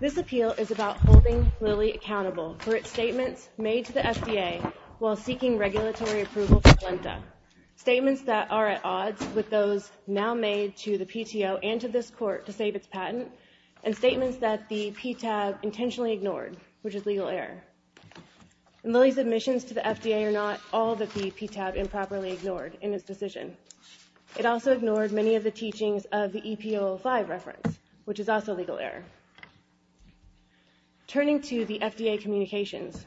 This appeal is about holding Lilly accountable for its statements made to the FDA while seeking regulatory approval for Polenta. Statements that are at odds with those now made to the PTO and to this Court to save its patent, and statements that the PTAB intentionally ignored, which is legal error. In Lilly's admissions to the FDA or not, all that the PTAB improperly ignored in its decision. It also ignored many of the teachings of the PTAB, which is also legal error. Turning to the FDA communications,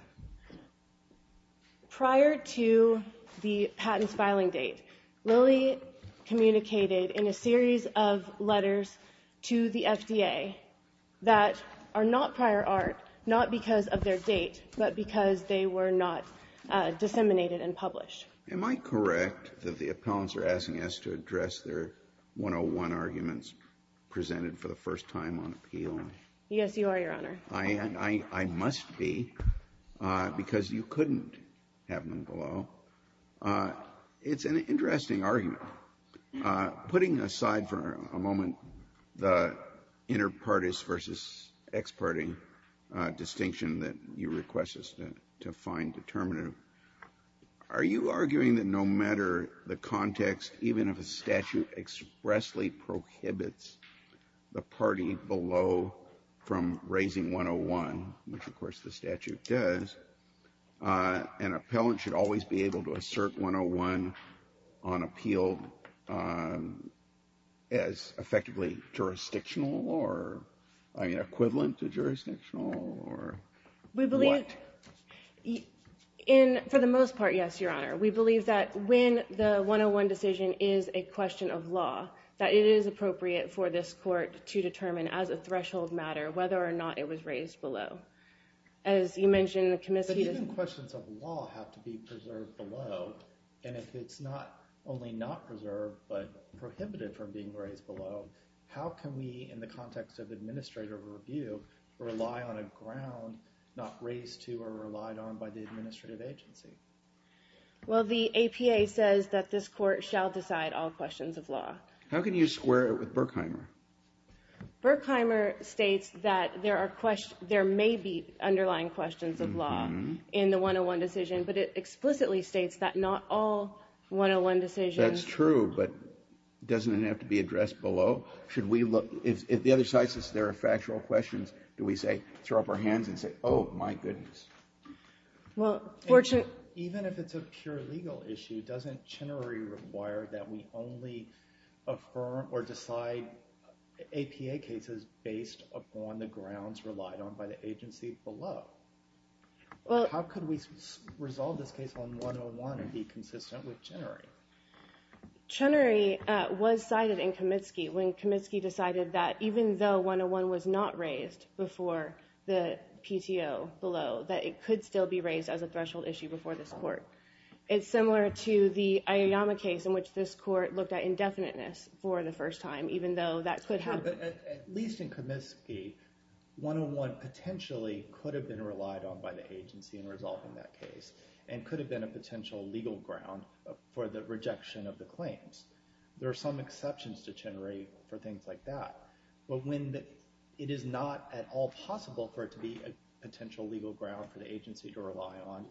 prior to the patent's filing date, Lilly communicated in a series of letters to the FDA that are not prior art, not because of their date, but because they were not disseminated and published. Am I correct that the appellants are asking us to address their 101 arguments presented for the first time on appeal? Yes, you are, Your Honor. I must be, because you couldn't have them below. It's an interesting argument. Putting aside for a moment the inter-parties versus ex-parties distinction that you request us to find determinative, are you arguing that no matter the context, even if a statute expressly prohibits the party below from raising 101, which of course the statute does, an appellant should always be able to assert 101 on appeal as effectively jurisdictional or equivalent to jurisdictional, or what? For the most part, yes, Your Honor. We believe that when the 101 decision is a question of law, it is appropriate for this court to determine as a threshold matter whether or not it was raised below. As you mentioned, the commission... But even questions of law have to be preserved below, and if it's not only not preserved, but prohibited from being raised below, how can we, in the context of administrative review, rely on a ground not raised to or relied on by the administrative agency? Well, the APA says that this court shall decide all questions of law. How can you square it with Berkheimer? Berkheimer states that there may be underlying questions of law in the 101 decision, but it explicitly states that not all 101 decisions... That's true, but doesn't it have to be addressed below? Should we look, if the other side says there are factual questions, do we say, throw up our hands and say, oh, my goodness. Well, fortunate... Even if it's a pure legal issue, doesn't Chenery require that we only affirm or decide APA cases based upon the grounds relied on by the agency below? How could we resolve this case on 101 and be consistent with Chenery? Chenery was cited in Kamitsky when Kamitsky decided that even though 101 was not raised before the PTO below, that it could still be raised as a threshold issue before this court. It's similar to the Aoyama case in which this court looked at indefiniteness for the first time, even though that could happen. At least in Kamitsky, 101 potentially could have been relied on by the agency in resolving that case and could have been a potential legal ground for the rejection of the claims. There are some exceptions to Chenery for things like that, but when it is not at all possible for it to be a potential legal ground for the agency to rely on,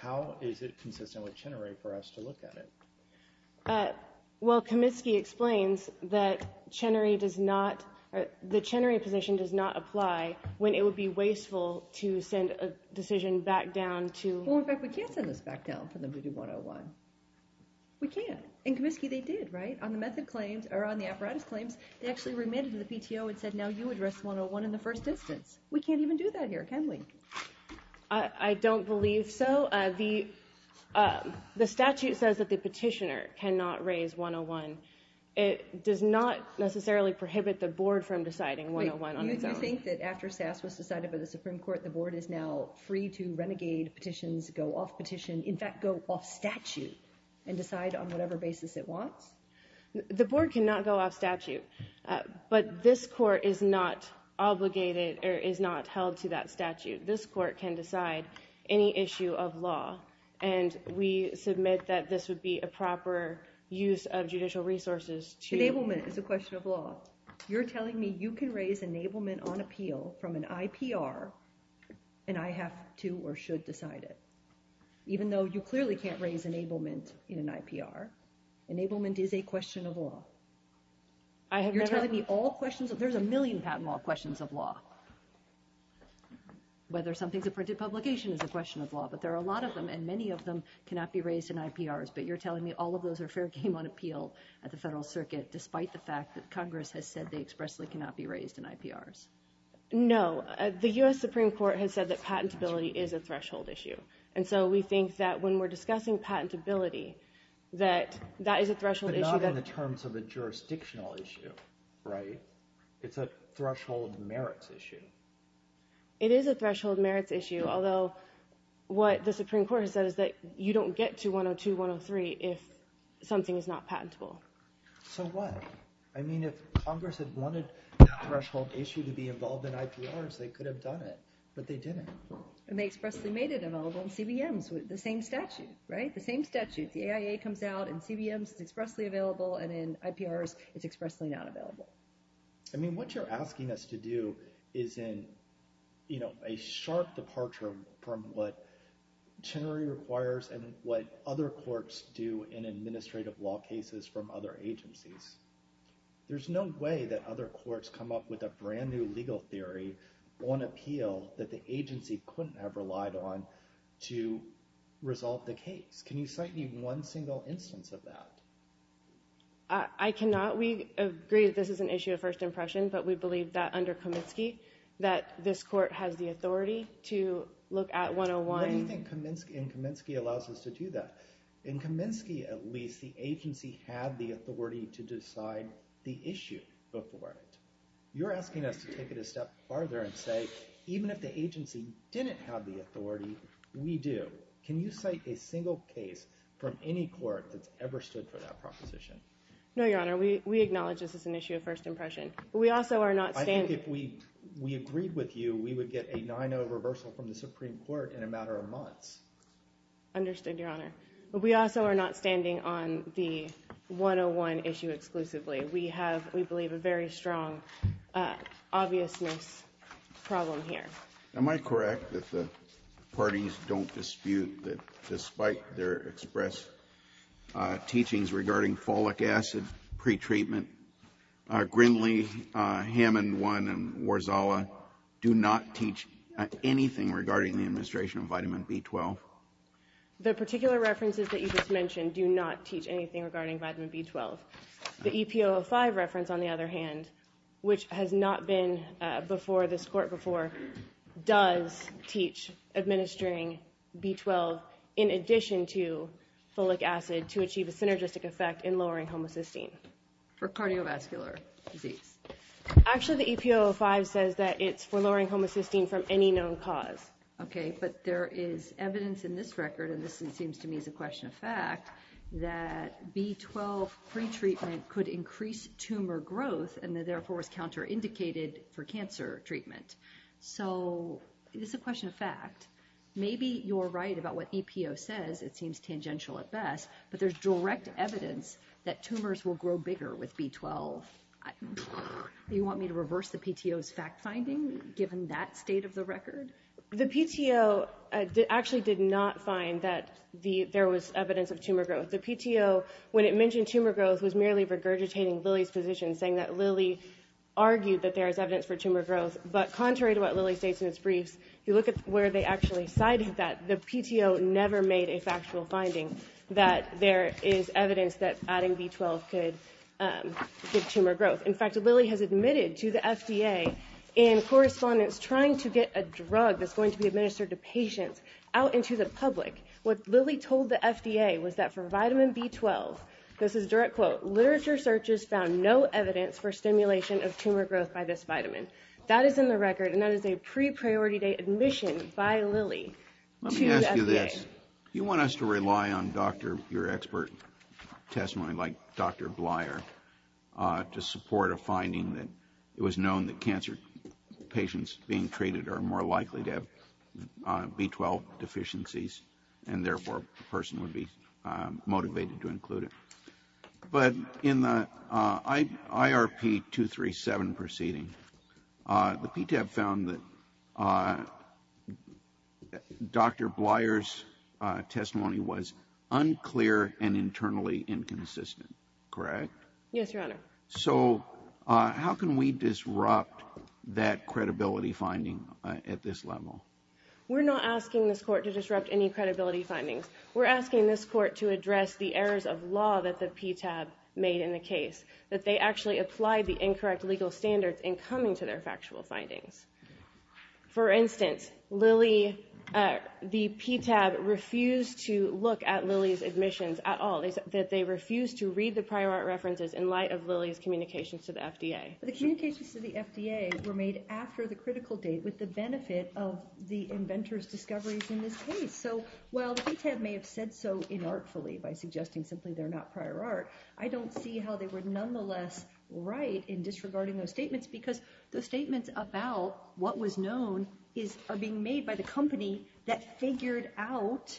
how is it consistent with Chenery for us to look at it? Well, Kamitsky explains that Chenery does not... The Chenery position does not apply when it would be wasteful to send a decision back down to... Well, in fact, we can't send this back down for them to do 101. We can't. In Kamitsky, they did, right? On the apparatus claims, they actually remanded to the PTO and said, now you address 101 in the first instance. We can't even do that here, can we? I don't believe so. The statute says that the petitioner cannot raise 101. It does not necessarily prohibit the board from deciding 101 on its own. Wait, you think that after SAS was decided by the Supreme Court, the board is now free to renegade petitions, go off petition, in fact, go off statute and decide on whatever basis it wants? The board cannot go off statute. But this court is not obligated or is not held to that statute. This court can decide any issue of law. And we submit that this would be a proper use of judicial resources to... Enablement is a question of law. You're telling me you can raise enablement on appeal from an IPR and I have to or should decide it, even though you clearly can't raise enablement in an IPR. Enablement is a question of law. I have never... You're telling me all questions... There's a million patent law questions of law. Whether something's a printed publication is a question of law, but there are a lot of them and many of them cannot be raised in IPRs. But you're telling me all of those are fair game on appeal at the Federal Circuit, despite the fact that Congress has said they expressly cannot be raised in IPRs. No, the US Supreme Court has said that patentability is a threshold issue. And so we think that when we're discussing patentability, that that is a threshold issue that... But not in the terms of a jurisdictional issue, right? It's a threshold merits issue. It is a threshold merits issue, although what the Supreme Court has said is that you don't get to 102, 103 if something is not patentable. So what? I mean, if Congress had wanted threshold issue to be involved in IPRs, they could have done it, but they didn't. And they expressly made it available in CBMs with the same statute, right? The same statute, the AIA comes out and CBMs is expressly available, and in IPRs, it's expressly not available. I mean, what you're asking us to do is in, you know, a sharp departure from what Chenery requires and what other courts do in administrative law cases from other agencies. There's no way that other courts come up with a brand new legal theory on appeal that the agency couldn't have relied on to resolve the case. Can you cite even one single instance of that? I cannot. We agree that this is an issue of first impression, but we believe that under Kaminsky that this court has the authority to look at 101. What do you think in Kaminsky allows us to do that? In Kaminsky, at least, the agency had the authority to decide the issue before it. You're asking us to take it a step farther and say, even if the agency didn't have the authority, we do. Can you cite a single case from any court that's ever stood for that proposition? No, Your Honor. We acknowledge this is an issue of first impression, but we also are not standing— I think if we agreed with you, we would get a 9-0 reversal from the Supreme Court in a matter of months. Understood, Your Honor. But we also are not standing on the 101 issue exclusively. We have, we believe, a very strong obviousness problem here. Am I correct that the parties don't dispute that, despite their express teachings regarding folic acid pretreatment, Grindley, Hammond 1, and Warzawa do not teach anything regarding the administration of vitamin B12? The particular references that you just mentioned do not teach anything regarding vitamin B12. The EPO05 reference, on the other hand, which has not been before this court before, does teach administering B12 in addition to folic acid to achieve a synergistic effect in lowering homocysteine. For cardiovascular disease? Actually, the EPO05 says that it's for lowering homocysteine from any known cause. Okay, but there is evidence in this record, and this seems to me is a question of fact, that B12 pretreatment could increase tumor growth and therefore was counter-indicated for cancer treatment. So it's a question of fact. Maybe you're right about what EPO says. It seems tangential at best, but there's direct evidence that tumors will grow bigger with B12. Do you want me to reverse the PTO's fact-finding, given that state of the record? The PTO actually did not find that there was evidence of tumor growth. The PTO, when it mentioned tumor growth, was merely regurgitating Lilly's position, saying that Lilly argued that there is evidence for tumor growth. But contrary to what Lilly states in its briefs, if you look at where they actually cited that, the PTO never made a factual finding that there is evidence that adding B12 could give tumor growth. In fact, Lilly has admitted to the FDA in correspondence trying to get a drug that's going to be administered to patients out into the public. What Lilly told the FDA was that for vitamin B12, this is a direct quote, literature searches found no evidence for stimulation of tumor growth by this vitamin. That is in the record, and that is a pre-priority date admission by Lilly to the FDA. Let me ask you this. Do you want us to rely on your expert testimony, like Dr. Bleier, to support a finding that it was known that cancer patients being treated are more likely to have B12 deficiencies, and therefore a person would be motivated to include it? But in the IRP 237 proceeding, the PTAB found that Dr. Bleier's testimony was unclear and internally inconsistent, correct? Yes, Your Honor. So how can we disrupt that credibility finding at this level? We're not asking this court to disrupt any credibility findings. We're asking this court to address the errors of law that the PTAB made in the case, that they actually applied the incorrect legal standards in coming to their factual findings. For instance, the PTAB refused to look at Lilly's admissions at all, that they refused to read the prior art references in light of Lilly's communications to the FDA. The communications to the FDA were made after the critical date with the benefit of the inventor's discoveries in this case. So while the PTAB may have said so inartfully by suggesting simply they're not prior art, I don't see how they were nonetheless right in disregarding those statements, because the statements about what was known are being made by the company that figured out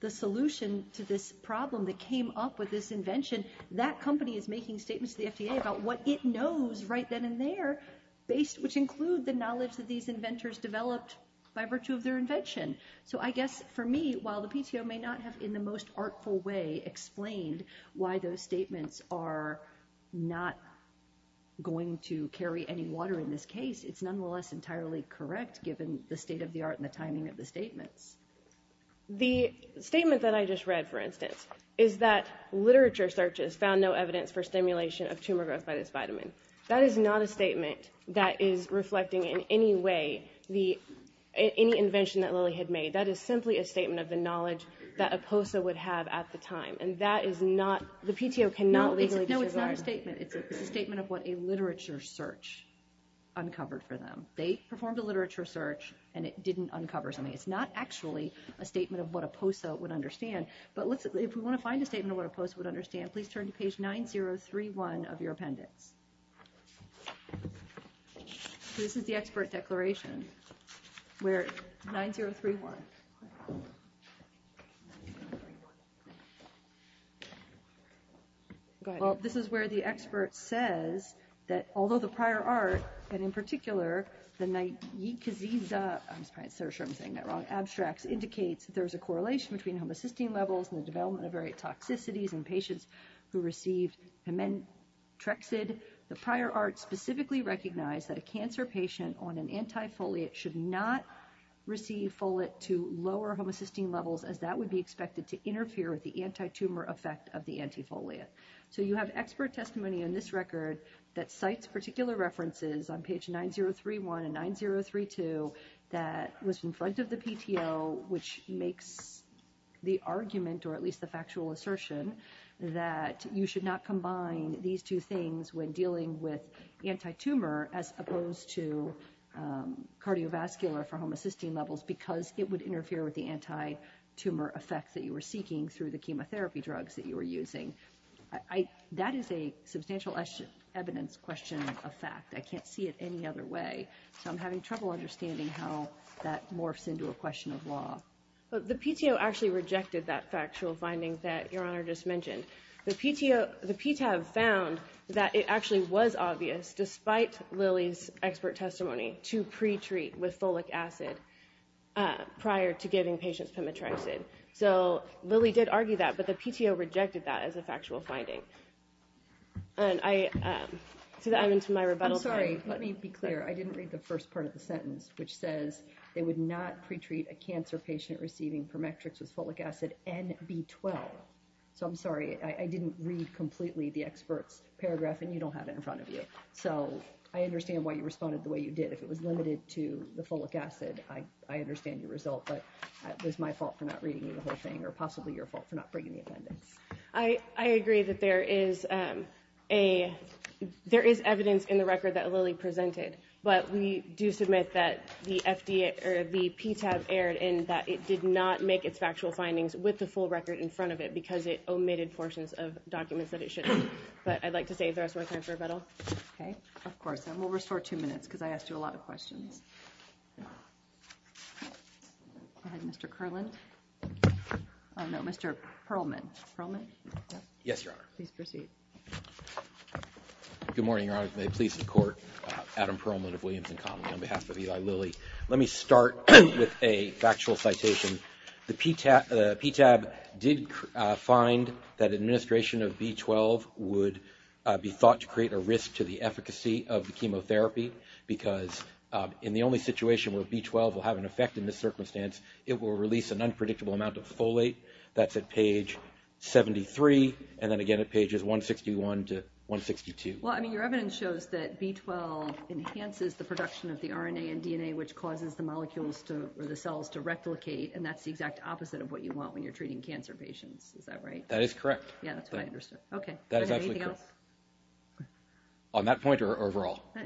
the solution to this problem that came up with this invention. That company is making statements to the FDA about what it knows right then and there, which include the knowledge that these inventors developed by virtue of their invention. So I guess for me, while the PTO may not have in the most artful way explained why those statements are not going to carry any water in this case, it's nonetheless entirely correct given the state of the art and the timing of the statements. The statement that I just read, for instance, is that literature searches found no evidence for stimulation of tumor growth by this vitamin. That is not a statement that is reflecting in any way any invention that Lilly had made. That is simply a statement of the knowledge that a POSA would have at the time. And that is not – the PTO cannot legally disregard that. No, it's not a statement. It's a statement of what a literature search uncovered for them. They performed a literature search and it didn't uncover something. It's not actually a statement of what a POSA would understand. But if we want to find a statement of what a POSA would understand, please turn to page 9031 of your appendix. So this is the expert declaration, where – 9031. Go ahead. Well, this is where the expert says that although the prior art, and in particular, the Nye-Kaziza – I'm sorry, I'm sure I'm saying that wrong – Abstracts, indicates that there is a correlation between homocysteine levels and the development of various toxicities in patients who received Hemantrexid, the prior art specifically recognized that a cancer patient on an antifoliate should not receive folate to lower homocysteine levels, as that would be expected to interfere with the antitumor effect of the antifoliate. So you have expert testimony on this record that cites particular references on page 9031 and 9032 that was in front of the PTO, which makes the argument, or at least the factual assertion, that you should not combine these two things when dealing with antitumor, as opposed to cardiovascular for homocysteine levels, because it would interfere with the antitumor effects that you were seeking through the chemotherapy drugs that you were using. That is a substantial evidence question of fact. I can't see it any other way, so I'm having trouble understanding how that morphs into a question of law. The PTO actually rejected that factual finding that Your Honor just mentioned. The PTO, the PTAB found that it actually was obvious, despite Lily's expert testimony, to pre-treat with folic acid prior to giving patients Hemantrexid. So Lily did argue that, but the PTO rejected that as a factual finding. And I, I'm into my rebuttal. I'm sorry, let me be clear. I didn't read the first part of the sentence, which says they would not pre-treat a cancer patient receiving Permetrix with folic acid and B12. So I'm sorry, I didn't read completely the expert's paragraph, and you don't have it in front of you. So I understand why you responded the way you did. If it was limited to the folic acid, I understand your result, but it was my fault for not reading the whole thing, or possibly your fault for not bringing the appendix. I, I agree that there is a, there is evidence in the record that Lily presented, but we do submit that the FDA, or the PTAB erred in that it did not make its factual findings with the full record in front of it because it omitted portions of documents that it shouldn't. But I'd like to say there is more time for rebuttal. Okay, of course, and we'll restore two minutes because I asked you a lot of questions. Go ahead, Mr. Kerland. Oh no, Mr. Perlman. Perlman? Yes, Your Honor. Please proceed. Good morning, Your Honor. May it please the Court. Adam Perlman of Williams and Connolly on behalf of Eli Lilly. Let me start with a factual citation. The PTAB did find that administration of B12 would be thought to create a risk to the efficacy of the chemotherapy because in the only situation where B12 will have an effect in this circumstance, it will release an unpredictable amount of folate. That's at page 73. And then again, at pages 161 to 162. I mean, your evidence shows that B12 enhances the production of the RNA and DNA, which causes the molecules or the cells to replicate. And that's the exact opposite of what you want when you're treating cancer patients. Is that right? That is correct. Yeah, that's what I understood. Okay. On that point or overall? I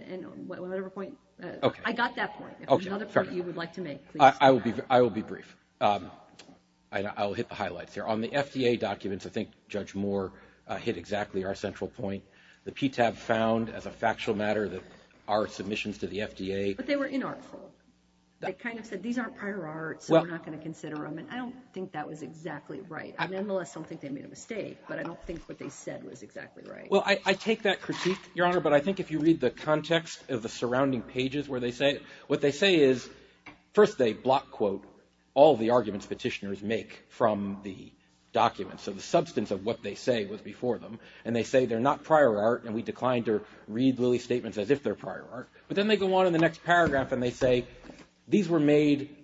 got that point. If there's another point you would like to make. I will be brief. I'll hit the highlights here. On the FDA documents, I think Judge Moore hit exactly our central point. The PTAB found as a factual matter that our submissions to the FDA. But they were inartful. They kind of said, these aren't prior arts, so we're not going to consider them. And I don't think that was exactly right. I nonetheless don't think they made a mistake, but I don't think what they said was exactly right. Well, I take that critique, Your Honor. But I think if you read the context of the surrounding pages where they say, what they say is, first they block quote all the arguments petitioners make from the documents. So the substance of what they say was before them. And they say, they're not prior art. And we declined to read Lilly's statements as if they're prior art. But then they go on in the next paragraph. And they say, these were made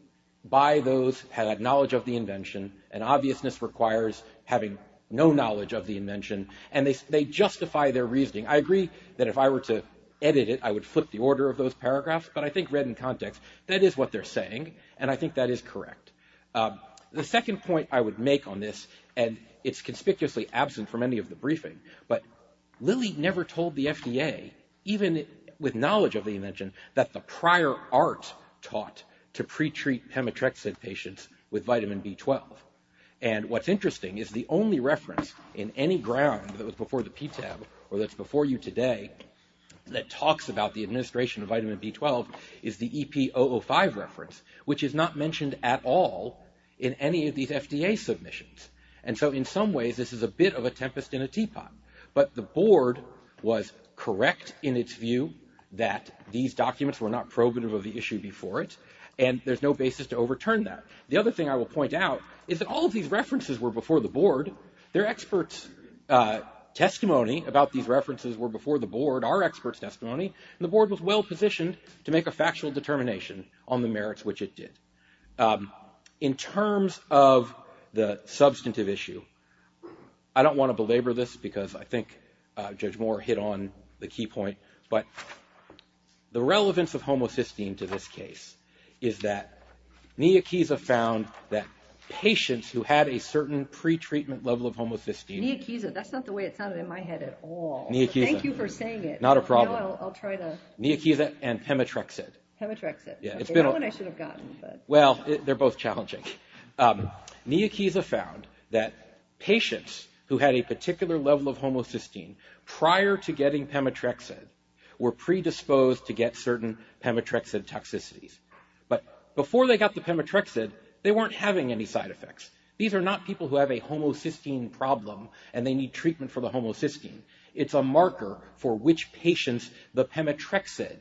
by those who had knowledge of the invention. And obviousness requires having no knowledge of the invention. And they justify their reasoning. I agree that if I were to edit it, I would flip the order of those paragraphs. But I think read in context, that is what they're saying. And I think that is correct. The second point I would make on this, and it's conspicuously absent from any of the briefing. But Lilly never told the FDA, even with knowledge of the invention, that the prior art taught to pre-treat hemotrexate patients with vitamin B12. And what's interesting is the only reference in any ground that was before the PTAB or that's before you today that talks about the administration of vitamin B12 is the EP005 reference, which is not mentioned at all in any of these FDA submissions. And so in some ways, this is a bit of a tempest in a teapot. But the board was correct in its view that these documents were not probative of the issue before it. And there's no basis to overturn that. The other thing I will point out is that all of these references were before the board. Their experts' testimony about these references were before the board, our experts' testimony. And the board was well-positioned to make a factual determination on the merits which it did. In terms of the substantive issue, I don't want to belabor this because I think Judge Moore hit on the key point. But the relevance of homocysteine to this case is that Niakiza found that patients who had a certain pre-treatment level of homocysteine. Niakiza, that's not the way it sounded in my head at all. Niakiza. Thank you for saying it. Not a problem. I'll try to... Niakiza and hemotrexate. Hemotrexate. Yeah. That one I should have gotten. Well, they're both challenging. Niakiza found that patients who had a particular level of homocysteine prior to getting pemotrexate were predisposed to get certain pemotrexate toxicities. But before they got the pemotrexate, they weren't having any side effects. These are not people who have a homocysteine problem and they need treatment for the homocysteine. It's a marker for which patients the pemotrexate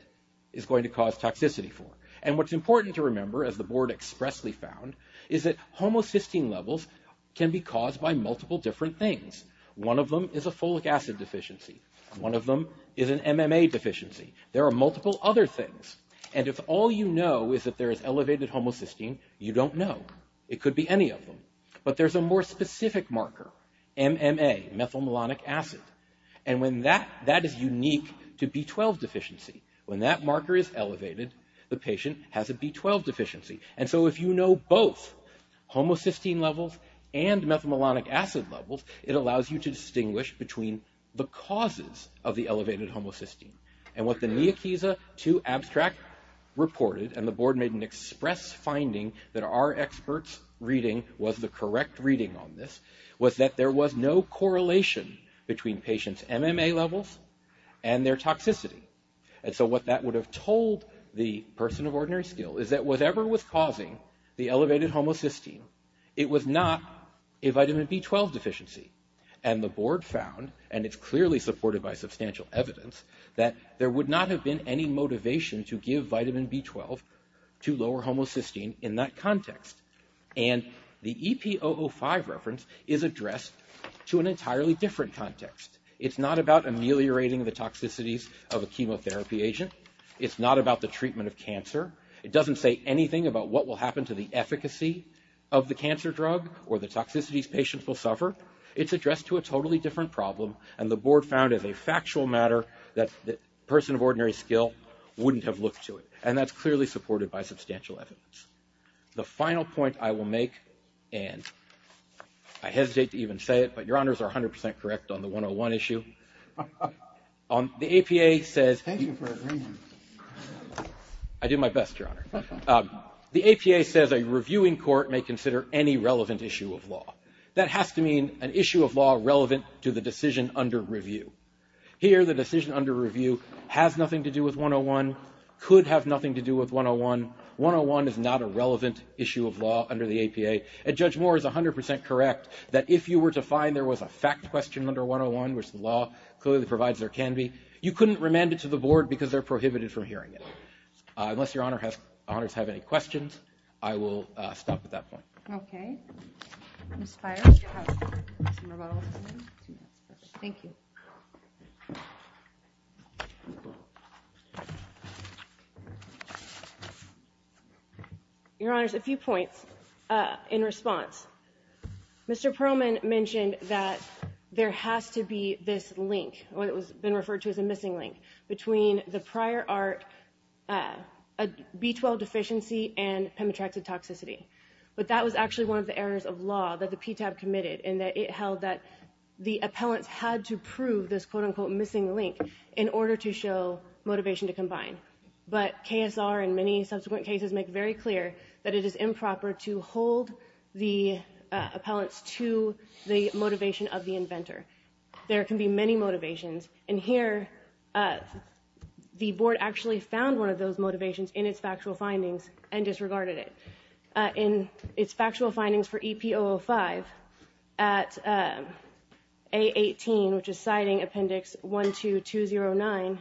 is going to cause toxicity for. And what's important to remember, as the board expressly found, is that homocysteine levels can be caused by multiple different things. One of them is a folic acid deficiency. One of them is an MMA deficiency. There are multiple other things. And if all you know is that there is elevated homocysteine, you don't know. It could be any of them. But there's a more specific marker, MMA, methylmalonic acid. And when that is unique to B12 deficiency, when that marker is elevated, the patient has a B12 deficiency. And so if you know both homocysteine levels and methylmalonic acid levels, it allows you to distinguish between the causes of the elevated homocysteine. And what the Niakisa 2 abstract reported, and the board made an express finding that our experts' reading was the correct reading on this, was that there was no correlation between patients' MMA levels and their toxicity. And so what that would have told the person of ordinary skill is that whatever was causing the elevated homocysteine, it was not a vitamin B12 deficiency. And the board found, and it's clearly supported by substantial evidence, that there would not have been any motivation to give vitamin B12 to lower homocysteine in that context. And the EP005 reference is addressed to an entirely different context. It's not about ameliorating the toxicities of a chemotherapy agent. It's not about the treatment of cancer. It doesn't say anything about what will happen to the efficacy of the cancer drug or the toxicities patients will suffer. It's addressed to a totally different problem. And the board found as a factual matter that the person of ordinary skill wouldn't have looked to it. And that's clearly supported by substantial evidence. The final point I will make, and I hesitate to even say it, but your honors are 100% correct on the 101 issue. The APA says... Thank you for agreeing. I do my best, your honor. The APA says a reviewing court may consider any relevant issue of law. That has to mean an issue of law relevant to the decision under review. Here, the decision under review has nothing to do with 101, could have nothing to do with 101. 101 is not a relevant issue of law under the APA. And Judge Moore is 100% correct that if you were to find there was a fact question under 101, which the law clearly provides there can be, you couldn't remand it to the board because they're prohibited from hearing it. Unless your honors have any questions, I will stop at that point. Okay. Thank you. Your honors, a few points in response. Mr. Perlman mentioned that there has to be this link, what it was been referred to as a missing link between the prior art, B-12 deficiency and Pemetrexid toxicity. But that was actually one of the errors of law that the PTAB committed and that it held that the appellants had to prove this quote unquote missing link in order to show motivation to combine. But KSR and many subsequent cases make very clear that it is improper to hold the appellants to the motivation of the inventor. There can be many motivations. And here the board actually found one of those motivations in its factual findings and disregarded it. In its factual findings for EP005 at A18, which is citing appendix 12209,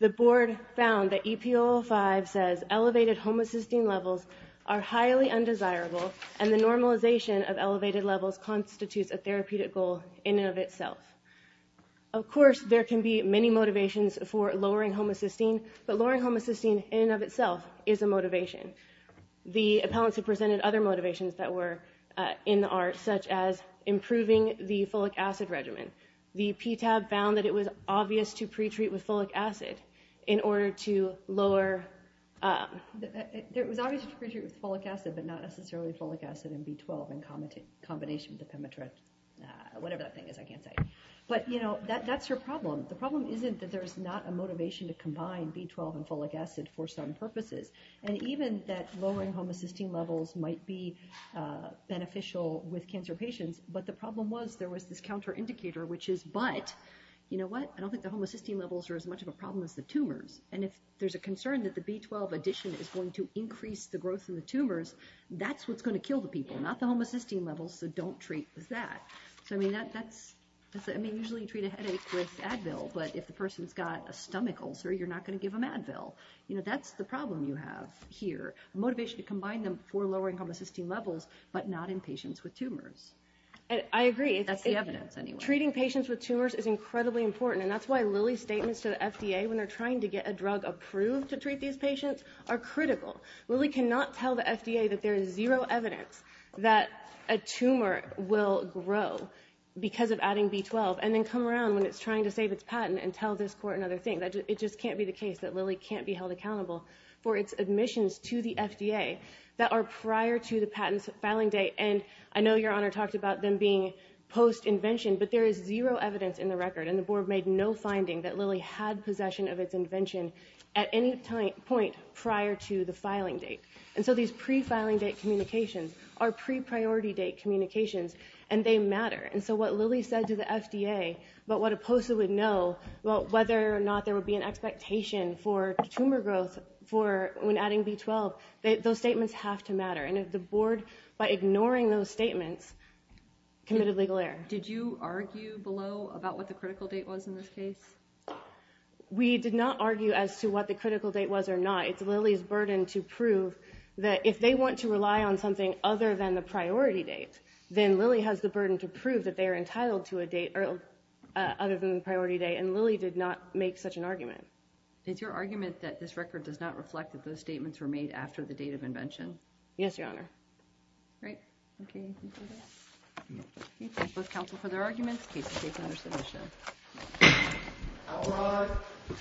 the board found that EP005 says elevated homocysteine levels are highly undesirable and the normalization of elevated levels constitutes a therapeutic goal in and of itself. Of course, there can be many motivations for lowering homocysteine, but lowering homocysteine in and of itself is a motivation. The appellants have presented other motivations that were in the art, such as improving the folic acid regimen. The PTAB found that it was obvious to pre-treat with folic acid in order to lower, it was obvious to pre-treat with folic acid but not necessarily folic acid and B12 in combination with the Pemetret. Whatever that thing is, I can't say. But that's your problem. The problem isn't that there's not a motivation to combine B12 and folic acid for some purposes. And even that lowering homocysteine levels might be beneficial with cancer patients, but the problem was there was this counter indicator, which is, but, you know what? I don't think the homocysteine levels are as much of a problem as the tumors. And if there's a concern that the B12 addition is going to increase the growth in the tumors, that's what's gonna kill the people, not the homocysteine levels, so don't treat with that. So, I mean, that's, I mean, usually you treat a headache with Advil, but if the person's got a stomach ulcer, you're not gonna give them Advil. You know, that's the problem you have here. Motivation to combine them for lowering homocysteine levels, but not in patients with tumors. And I agree. That's the evidence anyway. Treating patients with tumors is incredibly important. And that's why Lilly's statements to the FDA when they're trying to get a drug approved to treat these patients are critical. Lilly cannot tell the FDA that there is zero evidence that a tumor will grow because of adding B12, and then come around when it's trying to save its patent and tell this court another thing. It just can't be the case that Lilly can't be held accountable for its admissions to the FDA that are prior to the patent's filing date. And I know Your Honor talked about them being post-invention, but there is zero evidence in the record, and the board made no finding that Lilly had possession of its invention at any point prior to the filing date. And so these pre-filing date communications are pre-priority date communications, and they matter. And so what Lilly said to the FDA about what a POSA would know, about whether or not there would be an expectation for tumor growth when adding B12, those statements have to matter. And if the board, by ignoring those statements, committed legal error. Did you argue below about what the critical date was in this case? We did not argue as to what the critical date was or not. It's Lilly's burden to prove that if they want to rely on something other than the priority date, then Lilly has the burden to prove that they are entitled to a date other than the priority date, and Lilly did not make such an argument. It's your argument that this record does not reflect that those statements were made after the date of invention? Yes, Your Honor. Great. Okay. Thank you both counsel for their arguments. Case is taken under submission. All rise.